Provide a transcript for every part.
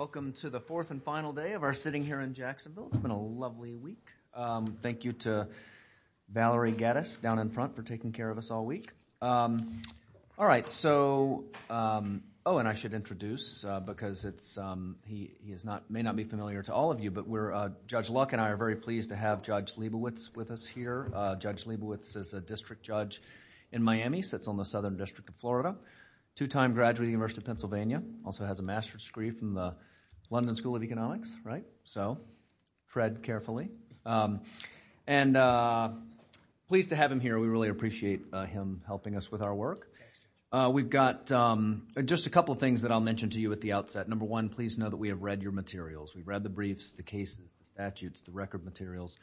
Welcome to the fourth and final day of our sitting here in Jacksonville. It's been a lovely week. Thank you to Valerie Geddes down in front for taking care of us all week. I should introduce, because he may not be familiar to all of you, but Judge Luck and I are very pleased to have Judge Leibowitz with us here. Judge Leibowitz is a district judge in Miami, sits on the Southern District of Florida, two-time graduate of the University of Miami, also has a master's degree from the London School of Economics, right? So, Fred, carefully. And pleased to have him here. We really appreciate him helping us with our work. We've got just a couple of things that I'll mention to you at the outset. Number one, please know that we have read your materials. We've read the briefs, the cases, the statutes, the record materials.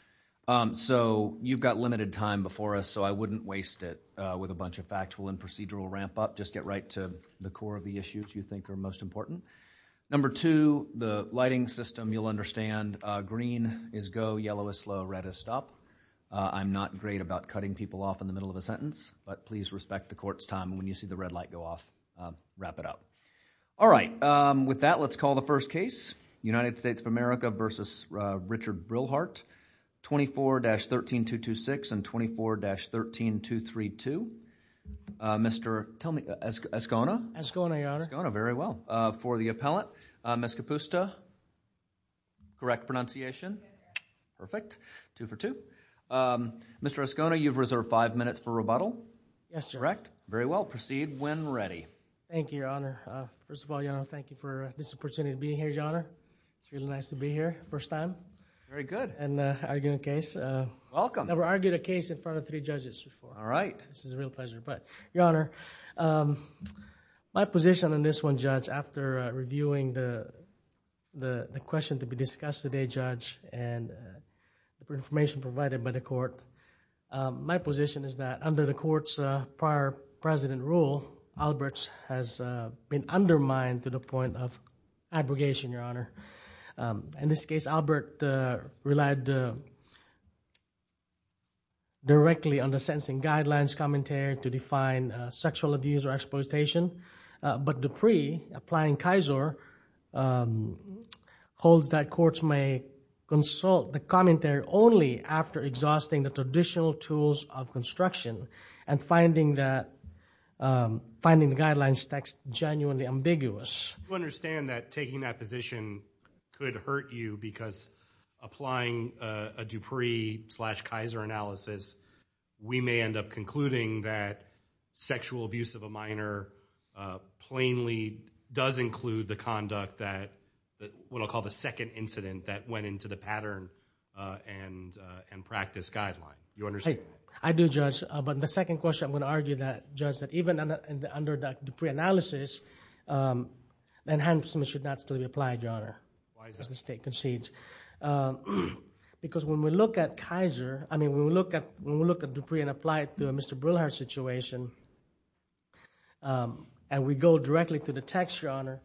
So, you've got limited time before us, so I wouldn't waste it with a bunch of factual and procedural ramp-up. Just get right to the core of the issues you think are most important. Number two, the lighting system. You'll understand green is go, yellow is slow, red is stop. I'm not great about cutting people off in the middle of a sentence, but please respect the court's time. When you see the red light go off, wrap it out. All right. With that, let's call the first case. United States of America versus Richard Brilhart, 24-13226 and 24-13232. Mr. Escona? Escona, Your Honor. Escona, very well. For the appellant, Ms. Capusta? Correct pronunciation? Perfect. Two for two. Mr. Escona, you've reserved five minutes for rebuttal. Yes, Your Honor. Correct. Very well. Proceed when ready. Thank you, Your Honor. First of all, Your Honor, thank you for this opportunity to be here, Your Honor. It's really nice to be here, first time. Very good. And argue a case. Welcome. Never argued a case in front of three judges before. All right. This is a real pleasure, but Your Honor, my position on this one, Judge, after reviewing the question to be discussed today, Judge, and the information provided by the court, my position is that under the court's prior president rule, Alberts has been undermined to the point of abrogation, Your Honor. In this case, Albert relied directly on the sentencing guidelines commentary to define sexual abuse or exploitation, but Dupree, applying Kisor, holds that courts may consult the commentary only after exhausting the traditional tools of construction and finding the guidelines text genuinely ambiguous. Do you understand that taking that position could hurt you because applying a Dupree slash Kisor analysis, we may end up concluding that sexual abuse of a minor plainly does include the conduct that, what I'll call the second incident that went into the pattern and practice guideline. Do you understand that? I do, Judge, but the second question I'm going to argue that, Judge, that even under that Dupree analysis, enhancements should not still be applied, Your Honor, as the state concedes. Because when we look at Kisor, I mean, when we look at Dupree and apply it to a Mr. Brillhardt situation, and we go directly to the text, Your Honor,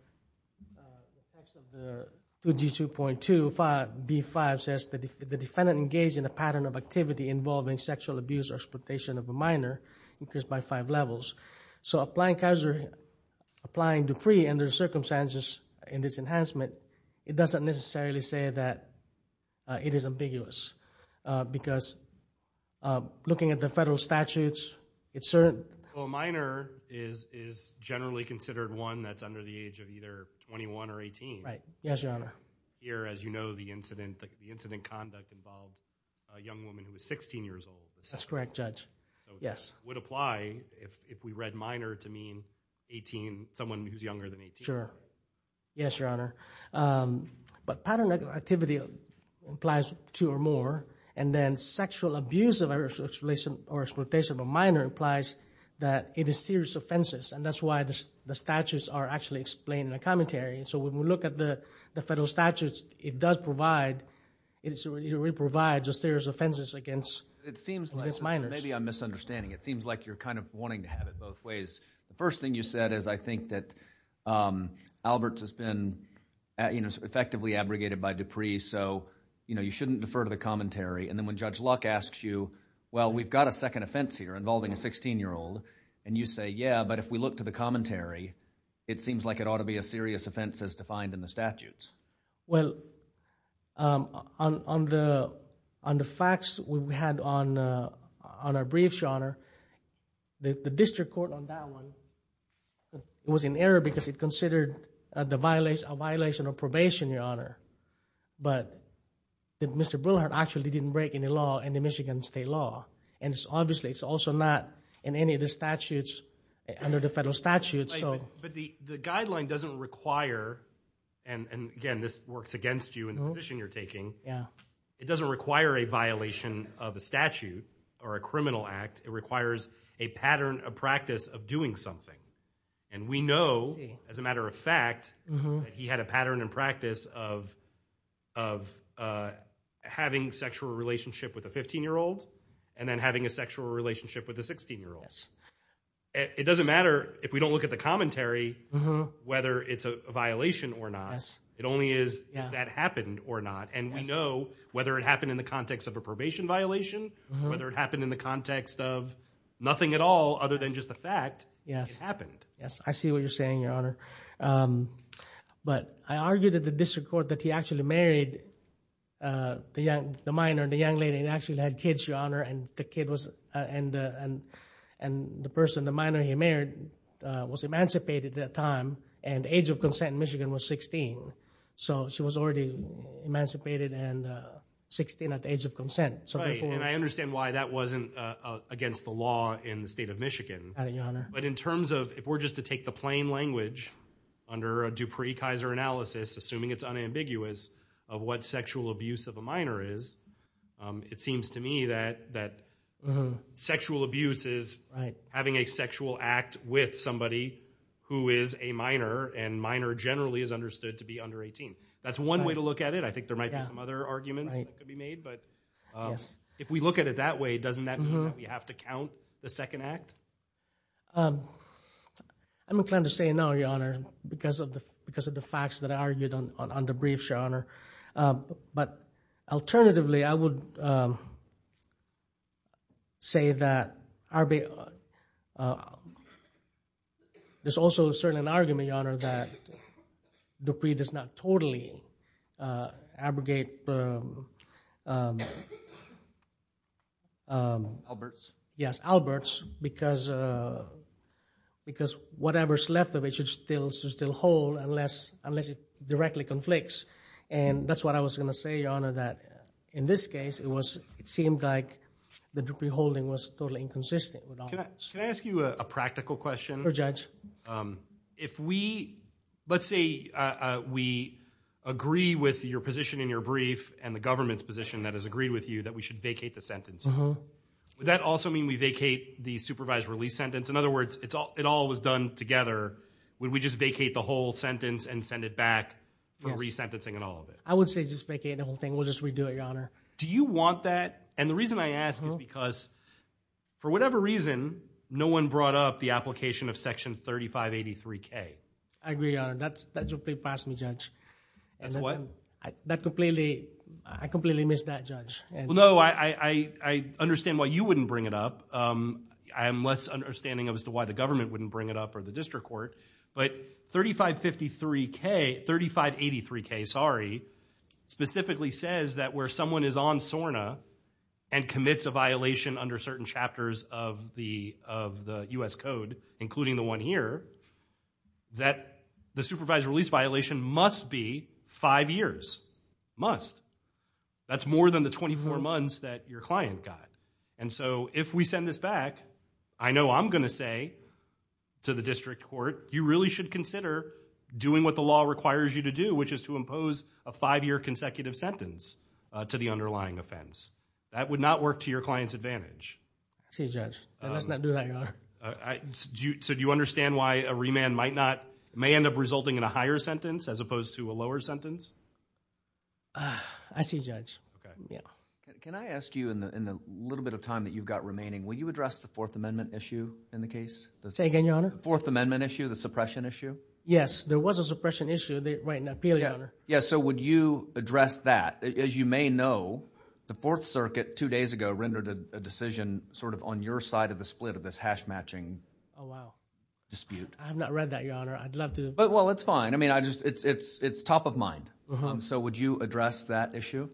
the text of the 2G2.25B5 says the defendant engaged in a pattern of activity involving sexual abuse or exploitation of a minor increased by five levels. So applying Kisor, applying Dupree under the circumstances in this enhancement, it doesn't necessarily say that it is ambiguous. Because looking at the federal statutes, it's certain. Well, a minor is generally considered one that's under the age of either 21 or 18. Right. Yes, Your Honor. Here, as you know, the incident, the incident conduct involved a young woman who was 16 years old. That's correct, Judge. Yes. Would apply if we read minor to mean 18, someone who's younger than 18. Sure. Yes, Your Honor. But pattern of activity implies two or more. And then sexual abuse of a relation or exploitation of a minor implies that it is serious offenses. And that's why the statutes are actually explained in the commentary. So when we look at the federal statutes, it does provide... it really provides a serious offenses against minors. It seems like... maybe I'm misunderstanding. It seems like you're kind of wanting to have it both ways. The first thing you said is I think that Alberts has been effectively abrogated by Dupree, so you shouldn't defer to the commentary. And then when Judge Luck asks you, well, we've got a second offense here involving a 16-year-old, and you say, yeah, but if we look to the commentary, it seems like it ought to be a serious offense as defined in the statutes. Well, on the facts we had on our briefs, Your Honor, the district court on that one was in error because it considered a violation of probation, Your Honor. But Mr. Brillhardt actually didn't break any law in the Michigan state law. And obviously, it's also not in any of the statutes under the federal statutes. But the guideline doesn't require... and again, this works against you and the position you're taking. It doesn't require a violation of a statute or a criminal act. It requires a pattern of practice of doing something. And we know, as a matter of fact, that he had a pattern and practice of having sexual relationship with a 15-year-old and then having a sexual relationship with a 16-year-old. It doesn't matter if we don't look at the commentary whether it's a violation or not. It only is if that happened or not. And we know, whether it happened in the context of a probation violation, whether it happened in the context of nothing at all other than just the fact, it happened. Yes, I see what you're saying, Your Honor. But I argue that the district court that he actually married the minor, the young lady, and actually had kids, Your Honor, and the person, the minor he married, was emancipated at that time and age of consent in Michigan was 16. So she was already emancipated and 16 at the age of consent. Right, and I understand why that wasn't against the law in the state of Michigan. But in terms of, if we're just to take the plain language under a Dupree-Kaiser analysis, assuming it's unambiguous of what sexual abuse of a minor is, it seems to me that sexual abuse is having a sexual act with somebody who is a minor and minor generally is understood to be under 18. That's one way to look at it. I think there might be some other arguments that could be made, but if we look at it that way, doesn't that mean that we have to count the second act? I'm inclined to say no, Your Honor, because of the facts that I argued on the briefs, Your Honor. But alternatively, I would say that there's also certainly an argument, Your Honor, that we have to investigate Alberts, because whatever's left of it should still hold unless it directly conflicts. And that's what I was going to say, Your Honor, that in this case, it seemed like the Dupree holding was totally inconsistent with Alberts. Can I ask you a practical question? Sure, Judge. If we, let's say we agree with your position in your brief and the government's position that has agreed with you that we should vacate the sentence, would that also mean we vacate the supervised release sentence? In other words, it all was done together. Would we just vacate the whole sentence and send it back for re-sentencing and all of it? I would say just vacate the whole thing. We'll just redo it, Your Honor. Do you want that? And the reason I ask is because for whatever reason, no one brought up the application of Section 3583-K. I agree, Your Honor. That's Dupree passed me, Judge. That's what? That completely, I completely missed that, Judge. Well, no, I understand why you wouldn't bring it up. I'm less understanding as to why the government wouldn't bring it up or the district court. But 3553-K, 3583-K, sorry, specifically says that where someone is on SORNA and commits a violation under certain chapters of the U.S. Code, including the one here, that the supervised release violation must be five years, must. That's more than the 24 months that your client got. And so if we send this back, I know I'm going to say to the district court, you really should consider doing what the law requires you to do, which is to impose a five-year consecutive sentence to the underlying offense. That would not work to your client's advantage. I see, Judge. Let's not do that, Your Honor. So do you understand why a remand might not, may end up resulting in a higher sentence as opposed to a lower sentence? I see, Judge. Okay. Yeah. Can I ask you in the little bit of time that you've got remaining, will you address the Fourth Amendment issue in the case? Say again, Your Honor? The Fourth Amendment issue, the suppression issue? Yes, there was a suppression issue right in the appeal, Your Honor. Yeah, so would you address that? As you may know, the Fourth Circuit two days ago rendered a decision sort of on your side of the split of this hash-matching dispute. Oh, wow. I have not read that, Your Honor. I'd love to... Well, it's fine. I mean, it's top of mind. So would you address that issue?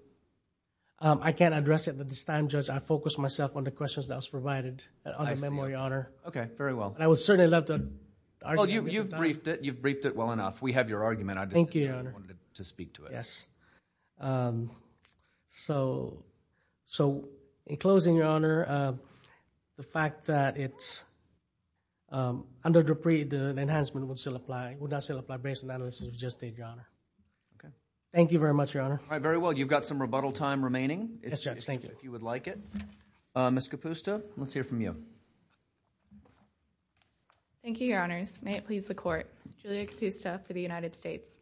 I can't address it at this time, Judge. I focused myself on the questions that was provided on the memo, Your Honor. I see. Okay, very well. And I would certainly love to... Well, you've briefed it. You've briefed it well enough. We have your argument. Thank you, Your Honor. I just didn't want to speak to it. Yes. So, in closing, Your Honor, the fact that it's... under Dupree, the enhancement would still apply. It would not still apply based on the analysis we just did, Your Honor. Thank you very much, Your Honor. All right, very well. You've got some rebuttal time remaining... Yes, Judge, thank you.... if you would like it. Ms. Capusta, let's hear from you. Thank you, Your Honors. May it please the Court. Julia Capusta for the United States.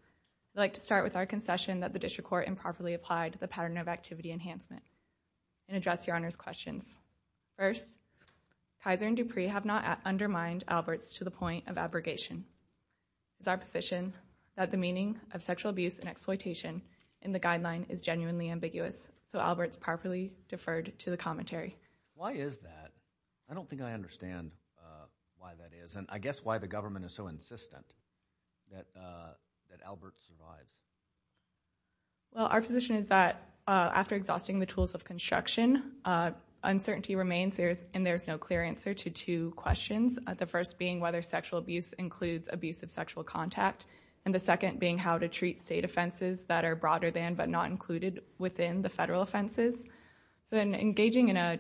I'd like to start with our concession that the District Court improperly applied the pattern of activity enhancement and address Your Honor's questions. First, Kaiser and Dupree have not undermined Alberts to the point of abrogation. It is our position that the meaning of sexual abuse and exploitation in the guideline is genuinely ambiguous, so Alberts properly deferred to the commentary. Why is that? I don't think I understand why that is, and I guess why the government is so insistent that Alberts survives. Well, our position is that after exhausting the tools of construction, uncertainty remains and there's no clear answer to two questions. The first being whether sexual abuse includes abuse of sexual contact, and the second being how to treat state offenses that are broader than but not included within the federal offenses. So in engaging in a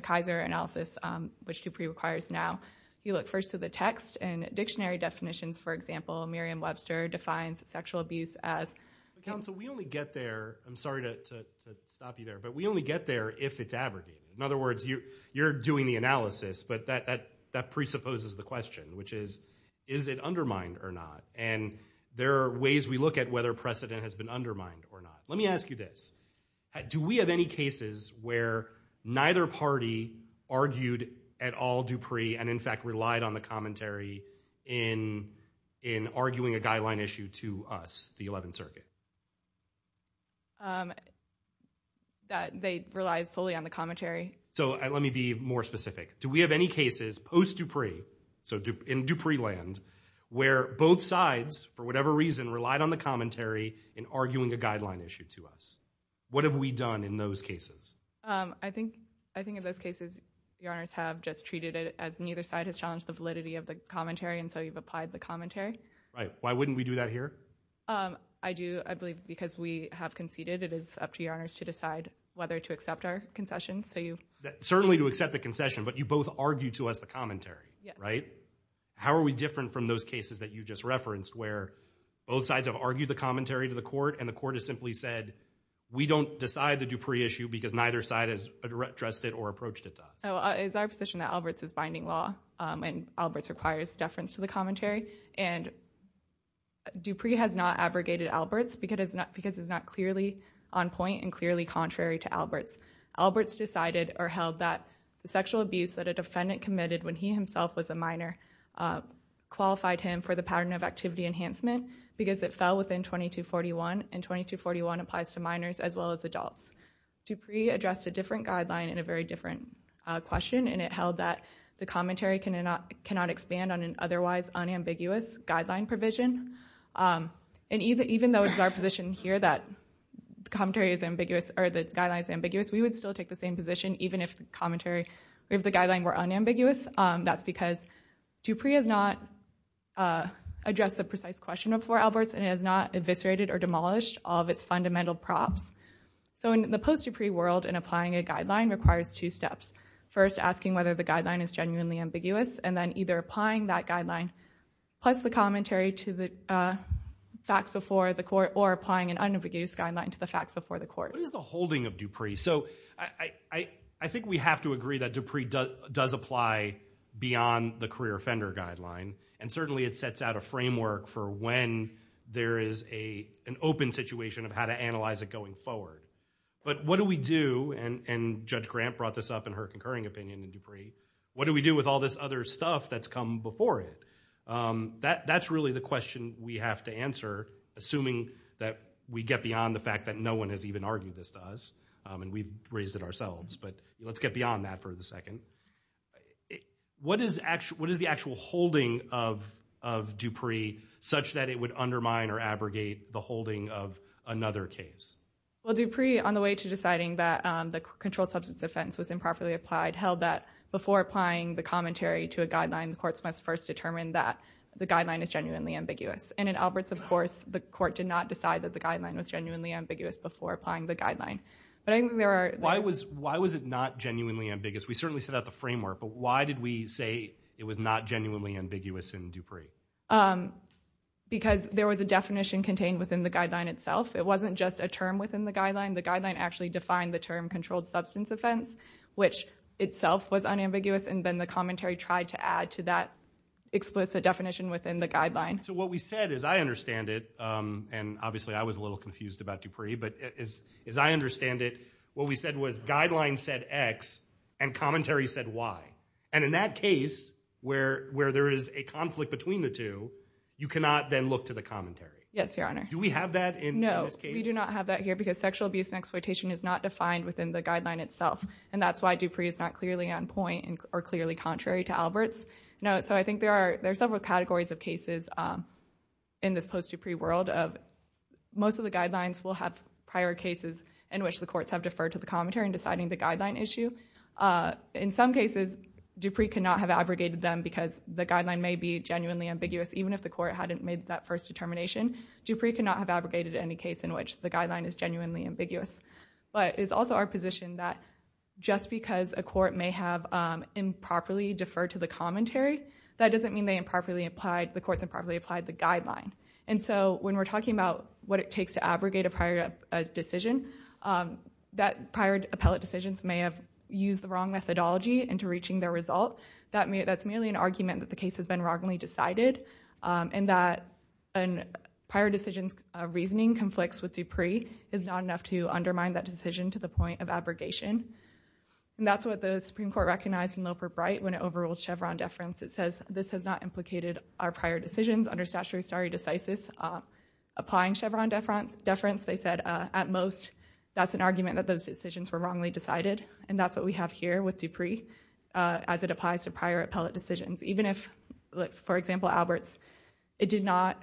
Kaiser analysis, which Dupree requires now, you look first to the text and dictionary definitions. For example, Miriam Webster defines sexual abuse as... Counsel, we only get there, I'm sorry to stop you there, but we only get there if it's abrogated. In other words, you're doing the analysis, but that presupposes the question, which is, is it undermined or not? And there are ways we look at whether precedent has been undermined or not. Let me ask you this. Do we have any cases where neither party argued at all Dupree and in fact relied on the commentary in arguing a guideline issue to us, the 11th They relied solely on the commentary. So let me be more specific. Do we have any cases post-Dupree, so in Dupree land, where both sides, for whatever reason, relied on the commentary in arguing a guideline issue to us? What have we done in those cases? I think in those cases, your honors have just treated it as neither side has challenged the validity of the commentary, and so you've applied the commentary. Right. Why wouldn't we do that here? I do, I believe, because we have conceded. It is up to your honors to decide whether to accept our concession, so you... Certainly to accept the concession, but you both argued to us the commentary, right? How are we different from those cases that you just referenced, where both sides have argued the commentary to the court, and the court has simply said, we don't decide the Dupree issue because neither side has addressed it or approached it that way? It's our position that Alberts is binding law, and Alberts requires deference to the commentary, and Dupree has not abrogated Alberts because it's not clearly on point and clearly contrary to Alberts. Alberts decided or held that the sexual abuse that a defendant committed when he himself was a minor qualified him for the pattern of activity enhancement because it fell within 2241, and 2241 applies to minors as well as adults. Dupree addressed a different guideline and a very different question, and it held that the commentary cannot expand on an otherwise unambiguous guideline provision, and even though it's our position here that the commentary is ambiguous, or the guideline is ambiguous, we would still take the same position even if the guideline were unambiguous. That's because Dupree has not addressed the guidelines, and it has not eviscerated or demolished all of its fundamental props, so in the post-Dupree world, in applying a guideline requires two steps. First, asking whether the guideline is genuinely ambiguous, and then either applying that guideline plus the commentary to the facts before the court, or applying an unambiguous guideline to the facts before the court. What is the holding of Dupree? I think we have to agree that Dupree does apply beyond the career offender guideline, and certainly it sets out a framework for when there is an open situation of how to analyze it going forward, but what do we do, and Judge Grant brought this up in her concurring opinion in Dupree, what do we do with all this other stuff that's come before it? That's really the question we have to answer, assuming that we get beyond the fact that no one has even argued this to us, and we've raised it ourselves, but let's get beyond that for the second. What is the actual holding of Dupree such that it would undermine or abrogate the holding of another case? Well, Dupree, on the way to deciding that the controlled substance offense was improperly applied, held that before applying the commentary to a guideline, the courts must first determine that the guideline is genuinely ambiguous, and in Alberts, of course, the court did not decide that the guideline was genuinely ambiguous before applying the guideline. Why was it not genuinely ambiguous? We certainly set out the framework, but why did we say it was not genuinely ambiguous in Dupree? Because there was a definition contained within the guideline itself. It wasn't just a term within the guideline. The guideline actually defined the term controlled substance offense, which itself was unambiguous, and then the commentary tried to add to that explicit definition within the guideline. So what we said is, I understand it, and obviously I was a little confused about Dupree, but as I understand it, what we said was guideline said X and commentary said Y. And in that case, where there is a conflict between the two, you cannot then look to the commentary. Yes, Your Honor. Do we have that in this case? No, we do not have that here because sexual abuse and exploitation is not defined within the guideline itself, and that's why Dupree is not clearly on point or clearly contrary to Alberts. So I think there are several categories of cases in this post-Dupree world of most of the guidelines will have prior cases in which the courts have deferred to the commentary in deciding the guideline issue. In some cases, Dupree cannot have abrogated them because the guideline may be genuinely ambiguous, even if the court hadn't made that first determination. Dupree cannot have abrogated any case in which the guideline is genuinely ambiguous. But it's also our position that just because a court may have improperly deferred to the commentary, that doesn't mean the courts improperly applied the guideline. And so when we're talking about what it takes to abrogate a prior decision, that prior appellate decisions may have used the wrong methodology into reaching their result. That's merely an argument that the case has been wrongly decided, and that a prior decision's reasoning conflicts with Dupree is not enough to undermine that decision to the point of abrogation. And that's what the Supreme Court recognized in Loper-Bright when it overruled Chevron deference. It says, this has not implicated our prior decisions under statutory stare decisis. Applying Chevron deference, they said, at most, that's an argument that those decisions were wrongly decided. And that's what we have here with Dupree as it applies to prior appellate decisions. Even if, for example, Alberts, it did not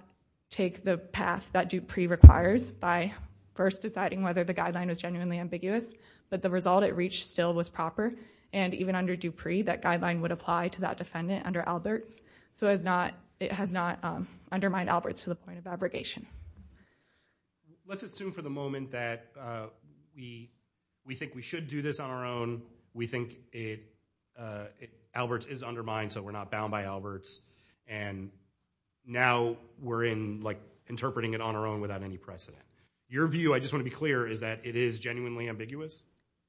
take the path that Dupree requires by first deciding whether the guideline was genuinely ambiguous, but the result it reached still was proper. And even under Dupree, that guideline would apply to that defendant under Alberts. So it has not undermined Alberts to the point of abrogation. Let's assume for the moment that we think we should do this on our own. We think Alberts is undermined, so we're not bound by Alberts. And now we're interpreting it on our own without any precedent. Your view, I just want to be clear, is that it is genuinely ambiguous?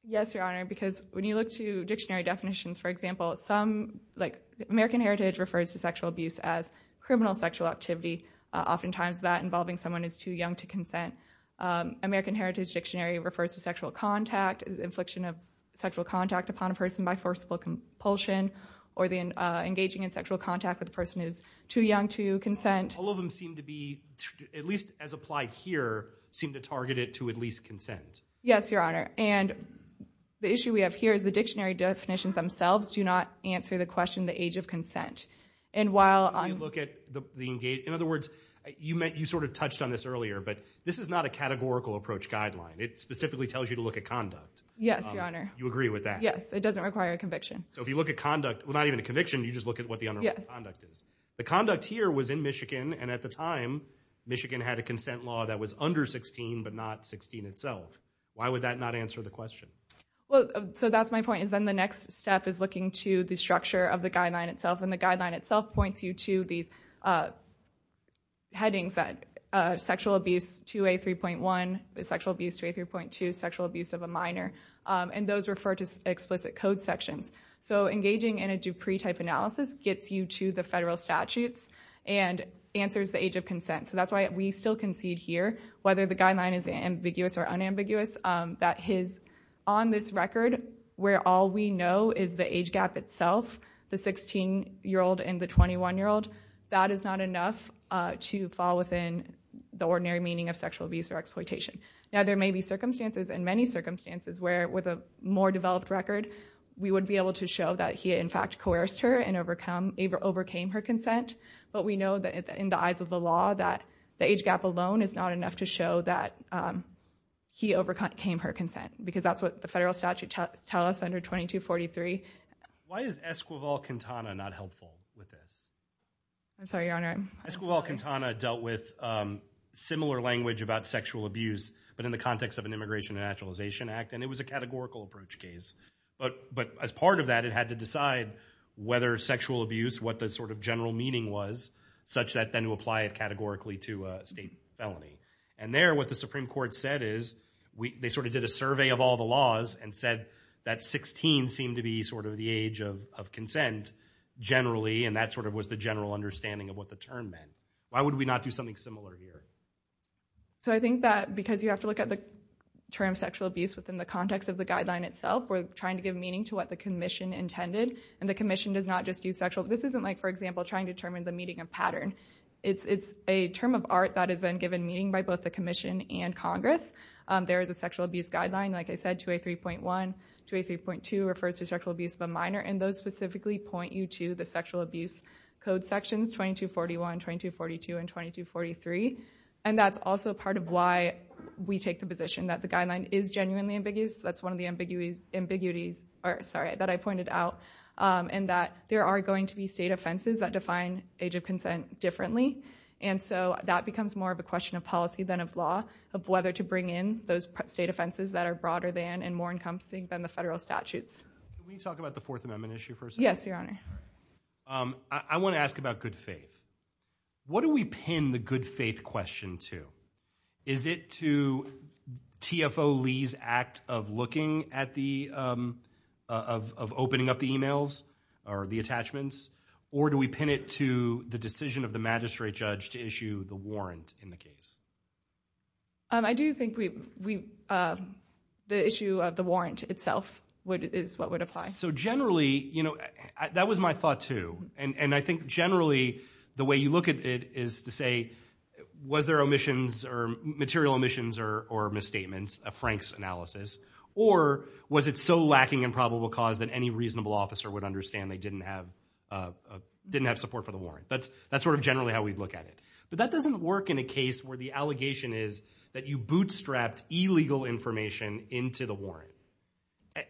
Yes, Your Honor, because when you look to dictionary definitions, for example, some, like American Heritage refers to sexual abuse as criminal sexual activity. Oftentimes that involving someone who is too young to consent. American Heritage Dictionary refers to sexual contact, infliction of sexual contact upon a person by forceful compulsion, or engaging in sexual contact with a person who is too young to consent. All of them seem to be, at least as applied here, seem to target it to at least consent. Yes, Your Honor. And the issue we have here is the dictionary definitions themselves do not answer the question the age of consent. And while on... When you look at the engage... In other words, you sort of touched on this earlier, but this is not a categorical approach guideline. It specifically tells you to look at conduct. Yes, Your Honor. You agree with that? Yes, it doesn't require a conviction. So if you look at conduct, well, not even a conviction, you just look at what the underline conduct is. The conduct here was in Michigan, and at the time, Michigan had a consent law that was under 16, but not 16 itself. Why would that not answer the question? Well, so that's my point, is then the next step is looking to the structure of the guideline itself, and the guideline itself points you to these headings that sexual abuse 2A3.1, sexual abuse 2A3.2, sexual abuse of a minor, and those refer to explicit code sections. So engaging in a Dupree-type analysis gets you to the federal statutes and answers the age of consent. So that's why we still concede here, whether the guideline is ambiguous or unambiguous, that his... On this record, where all we know is the age gap itself, the 16-year-old and the 21-year-old, that is not enough to fall within the ordinary meaning of sexual abuse or exploitation. Now, there may be circumstances, and many circumstances, where with a more developed record, we would be able to show that he in fact coerced her and overcame her consent, but we know that in the eyes of the law, that the age gap alone is not enough to show that he overcame her consent, because that's what the federal statutes tell us under 2243. Why is Esquivel-Quintana not helpful with this? I'm sorry, Your Honor. Esquivel-Quintana dealt with similar language about sexual abuse, but in the context of an Immigration and Naturalization Act, and it was a categorical approach case. But as part of that, it had to decide whether sexual abuse, what the sort of general meaning was, such that then to apply it categorically to a state felony. And there, what the Supreme Court said is, they sort of did a survey of all the laws and said that 16 seemed to be sort of the age of consent generally, and that sort of was the general understanding of what the term meant. Why would we not do something similar here? So I think that because you have to look at the term sexual abuse within the context of the guideline itself, we're trying to give meaning to what the commission intended. And the commission does not just use sexual. This isn't like, for example, trying to determine the meaning of pattern. It's a term of art that has been given meaning by both the commission and Congress. There is a sexual abuse guideline, like I said, 2A3.1. 2A3.2 refers to sexual abuse of a minor, and those specifically point you to the sexual abuse code sections 2241, 2242, and 2243. And that's also part of why we take the position that the guideline is genuinely ambiguous. That's one of the ambiguities, or sorry, that I pointed out, and that there are going to be state offenses that define age of consent differently. And so that becomes more of a question of policy than of law, of whether to bring in those state offenses that are broader than and more encompassing than the federal statutes. Can we talk about the Fourth Amendment issue for a second? Yes, Your Honor. I want to ask about good faith. What do we pin the good faith question to? Is it to TFO Lee's act of looking at the, of opening up the emails or the attachments? Or do we pin it to the decision of the magistrate judge to issue the warrant in the case? I do think we, the issue of the warrant itself is what would apply. So generally, you know, that was my thought too. And I think generally the way you look at it is to say, was there omissions or material omissions or misstatements of Frank's analysis? Or was it so lacking in probable cause that any reasonable officer would understand they didn't have, didn't have support for the warrant? That's sort of generally how we'd look at it. But that doesn't work in a case where the allegation is that you bootstrapped illegal information into the warrant.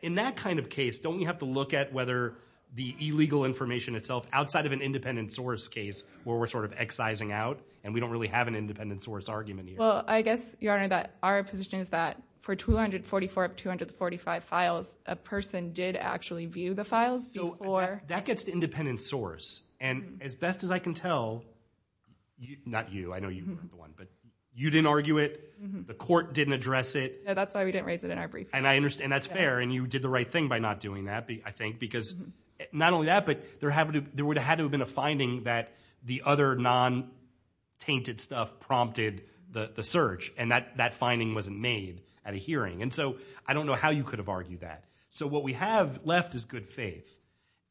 In that kind of case, don't we have to look at whether the illegal information itself outside of an independent source case where we're sort of excising out and we don't really have an independent source argument here? Well, I guess, Your Honor, that our position is that for 244 of 245 files, a person did actually view the files before. That gets to independent source. And as best as I can tell, not you, I know you weren't the one, but you didn't argue it. The court didn't address it. No, that's why we didn't raise it in our brief. And I understand that's fair. And you did the right thing by not doing that, I think, because not only that, but there would have had to have been a finding that the other non-tainted stuff prompted the search. And that finding wasn't made at a hearing. And so I don't know how you could have argued that. So what we have left is good faith.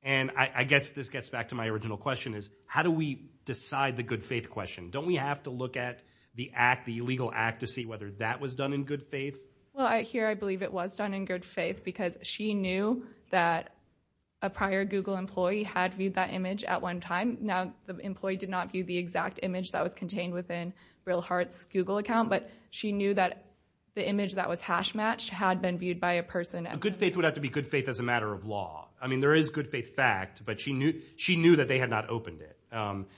And I guess this gets back to my original question is how do we decide the good faith question? Don't we have to look at the act, the illegal act to see whether that was done in good faith? Well, here I believe it was done in good faith because she knew that a prior Google employee had viewed that image at one time. Now, the employee did not view the exact image that was contained within Real Heart's Google account, but she knew that the image that was hash matched had been viewed by a person. A good faith would have to be good faith as a matter of law. I mean, there is good faith fact, but she knew that they had not opened it.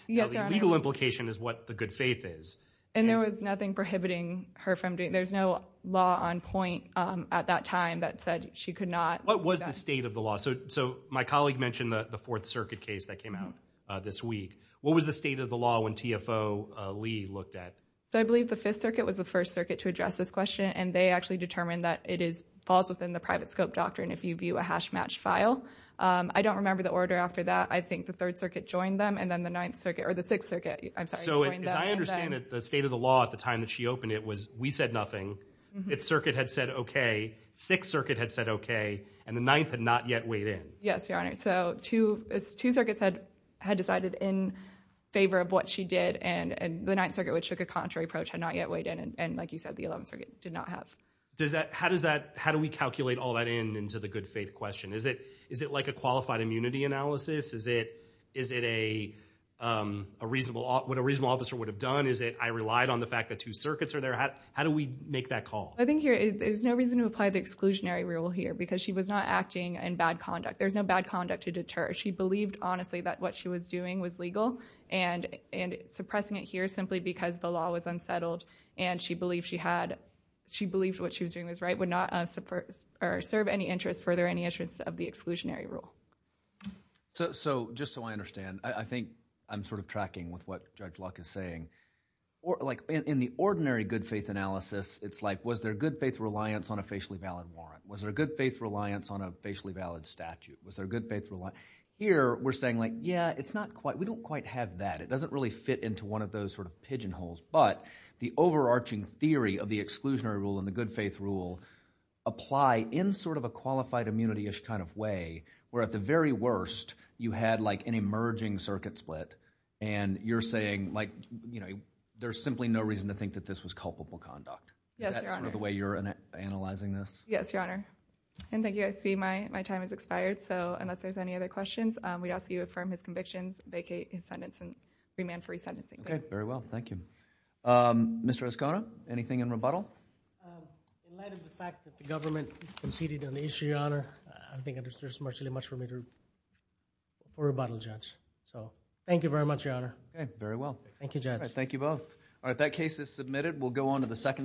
Yes, Your Honor. The legal implication is what the good faith is. And there was nothing prohibiting her from doing it. There's no law on point at that time that said she could not. What was the state of the law? So my colleague mentioned the Fourth Circuit case that came out this week. What was the state of the law when TFO Lee looked at? So I believe the Fifth Circuit was the first circuit to address this question, and they actually determined that it falls within the private scope doctrine if you view a hash matched file. I don't remember the order after that. I think the Third Circuit joined them and then the Ninth Circuit or the Sixth Circuit, I'm sorry, joined them. I understand that the state of the law at the time that she opened it was we said nothing. Fifth Circuit had said okay. Sixth Circuit had said okay. And the Ninth had not yet weighed in. Yes, Your Honor. So two circuits had decided in favor of what she did, and the Ninth Circuit, which took a contrary approach, had not yet weighed in. And like you said, the Eleventh Circuit did not have. How do we calculate all that in into the good faith question? Is it like a qualified immunity analysis? Is it what a reasonable officer would have done? Is it I relied on the fact that two circuits are there? How do we make that call? I think here there's no reason to apply the exclusionary rule here because she was not acting in bad conduct. There's no bad conduct to deter. She believed honestly that what she was doing was legal, and suppressing it here simply because the law was unsettled and she believed what she was doing was right would not serve any interest, further any interference of the exclusionary rule. So just so I understand, I think I'm sort of tracking with what Judge Luck is saying. In the ordinary good faith analysis, it's like was there good faith reliance on a facially valid warrant? Was there good faith reliance on a facially valid statute? Was there good faith reliance? Here we're saying like yeah, it's not quite, we don't quite have that. It doesn't really fit into one of those sort of pigeonholes. But the overarching theory of the exclusionary rule and the good faith rule apply in sort of a qualified immunity-ish kind of way, where at the very worst, you had like an emerging circuit split, and you're saying like, you know, there's simply no reason to think that this was culpable conduct. Yes, Your Honor. Is that sort of the way you're analyzing this? Yes, Your Honor. And thank you. I see my time has expired. So unless there's any other questions, we ask you affirm his convictions, vacate his sentence, and remand for re-sentencing. Okay, very well. Thank you. Mr. Escona, anything in rebuttal? In light of the fact that the government conceded on the issue, Your Honor, I think there's much too much for me to rebuttal, Judge. So thank you very much, Your Honor. Okay, very well. Thank you, Judge. All right, thank you both. All right, that case is submitted. We'll go on to the second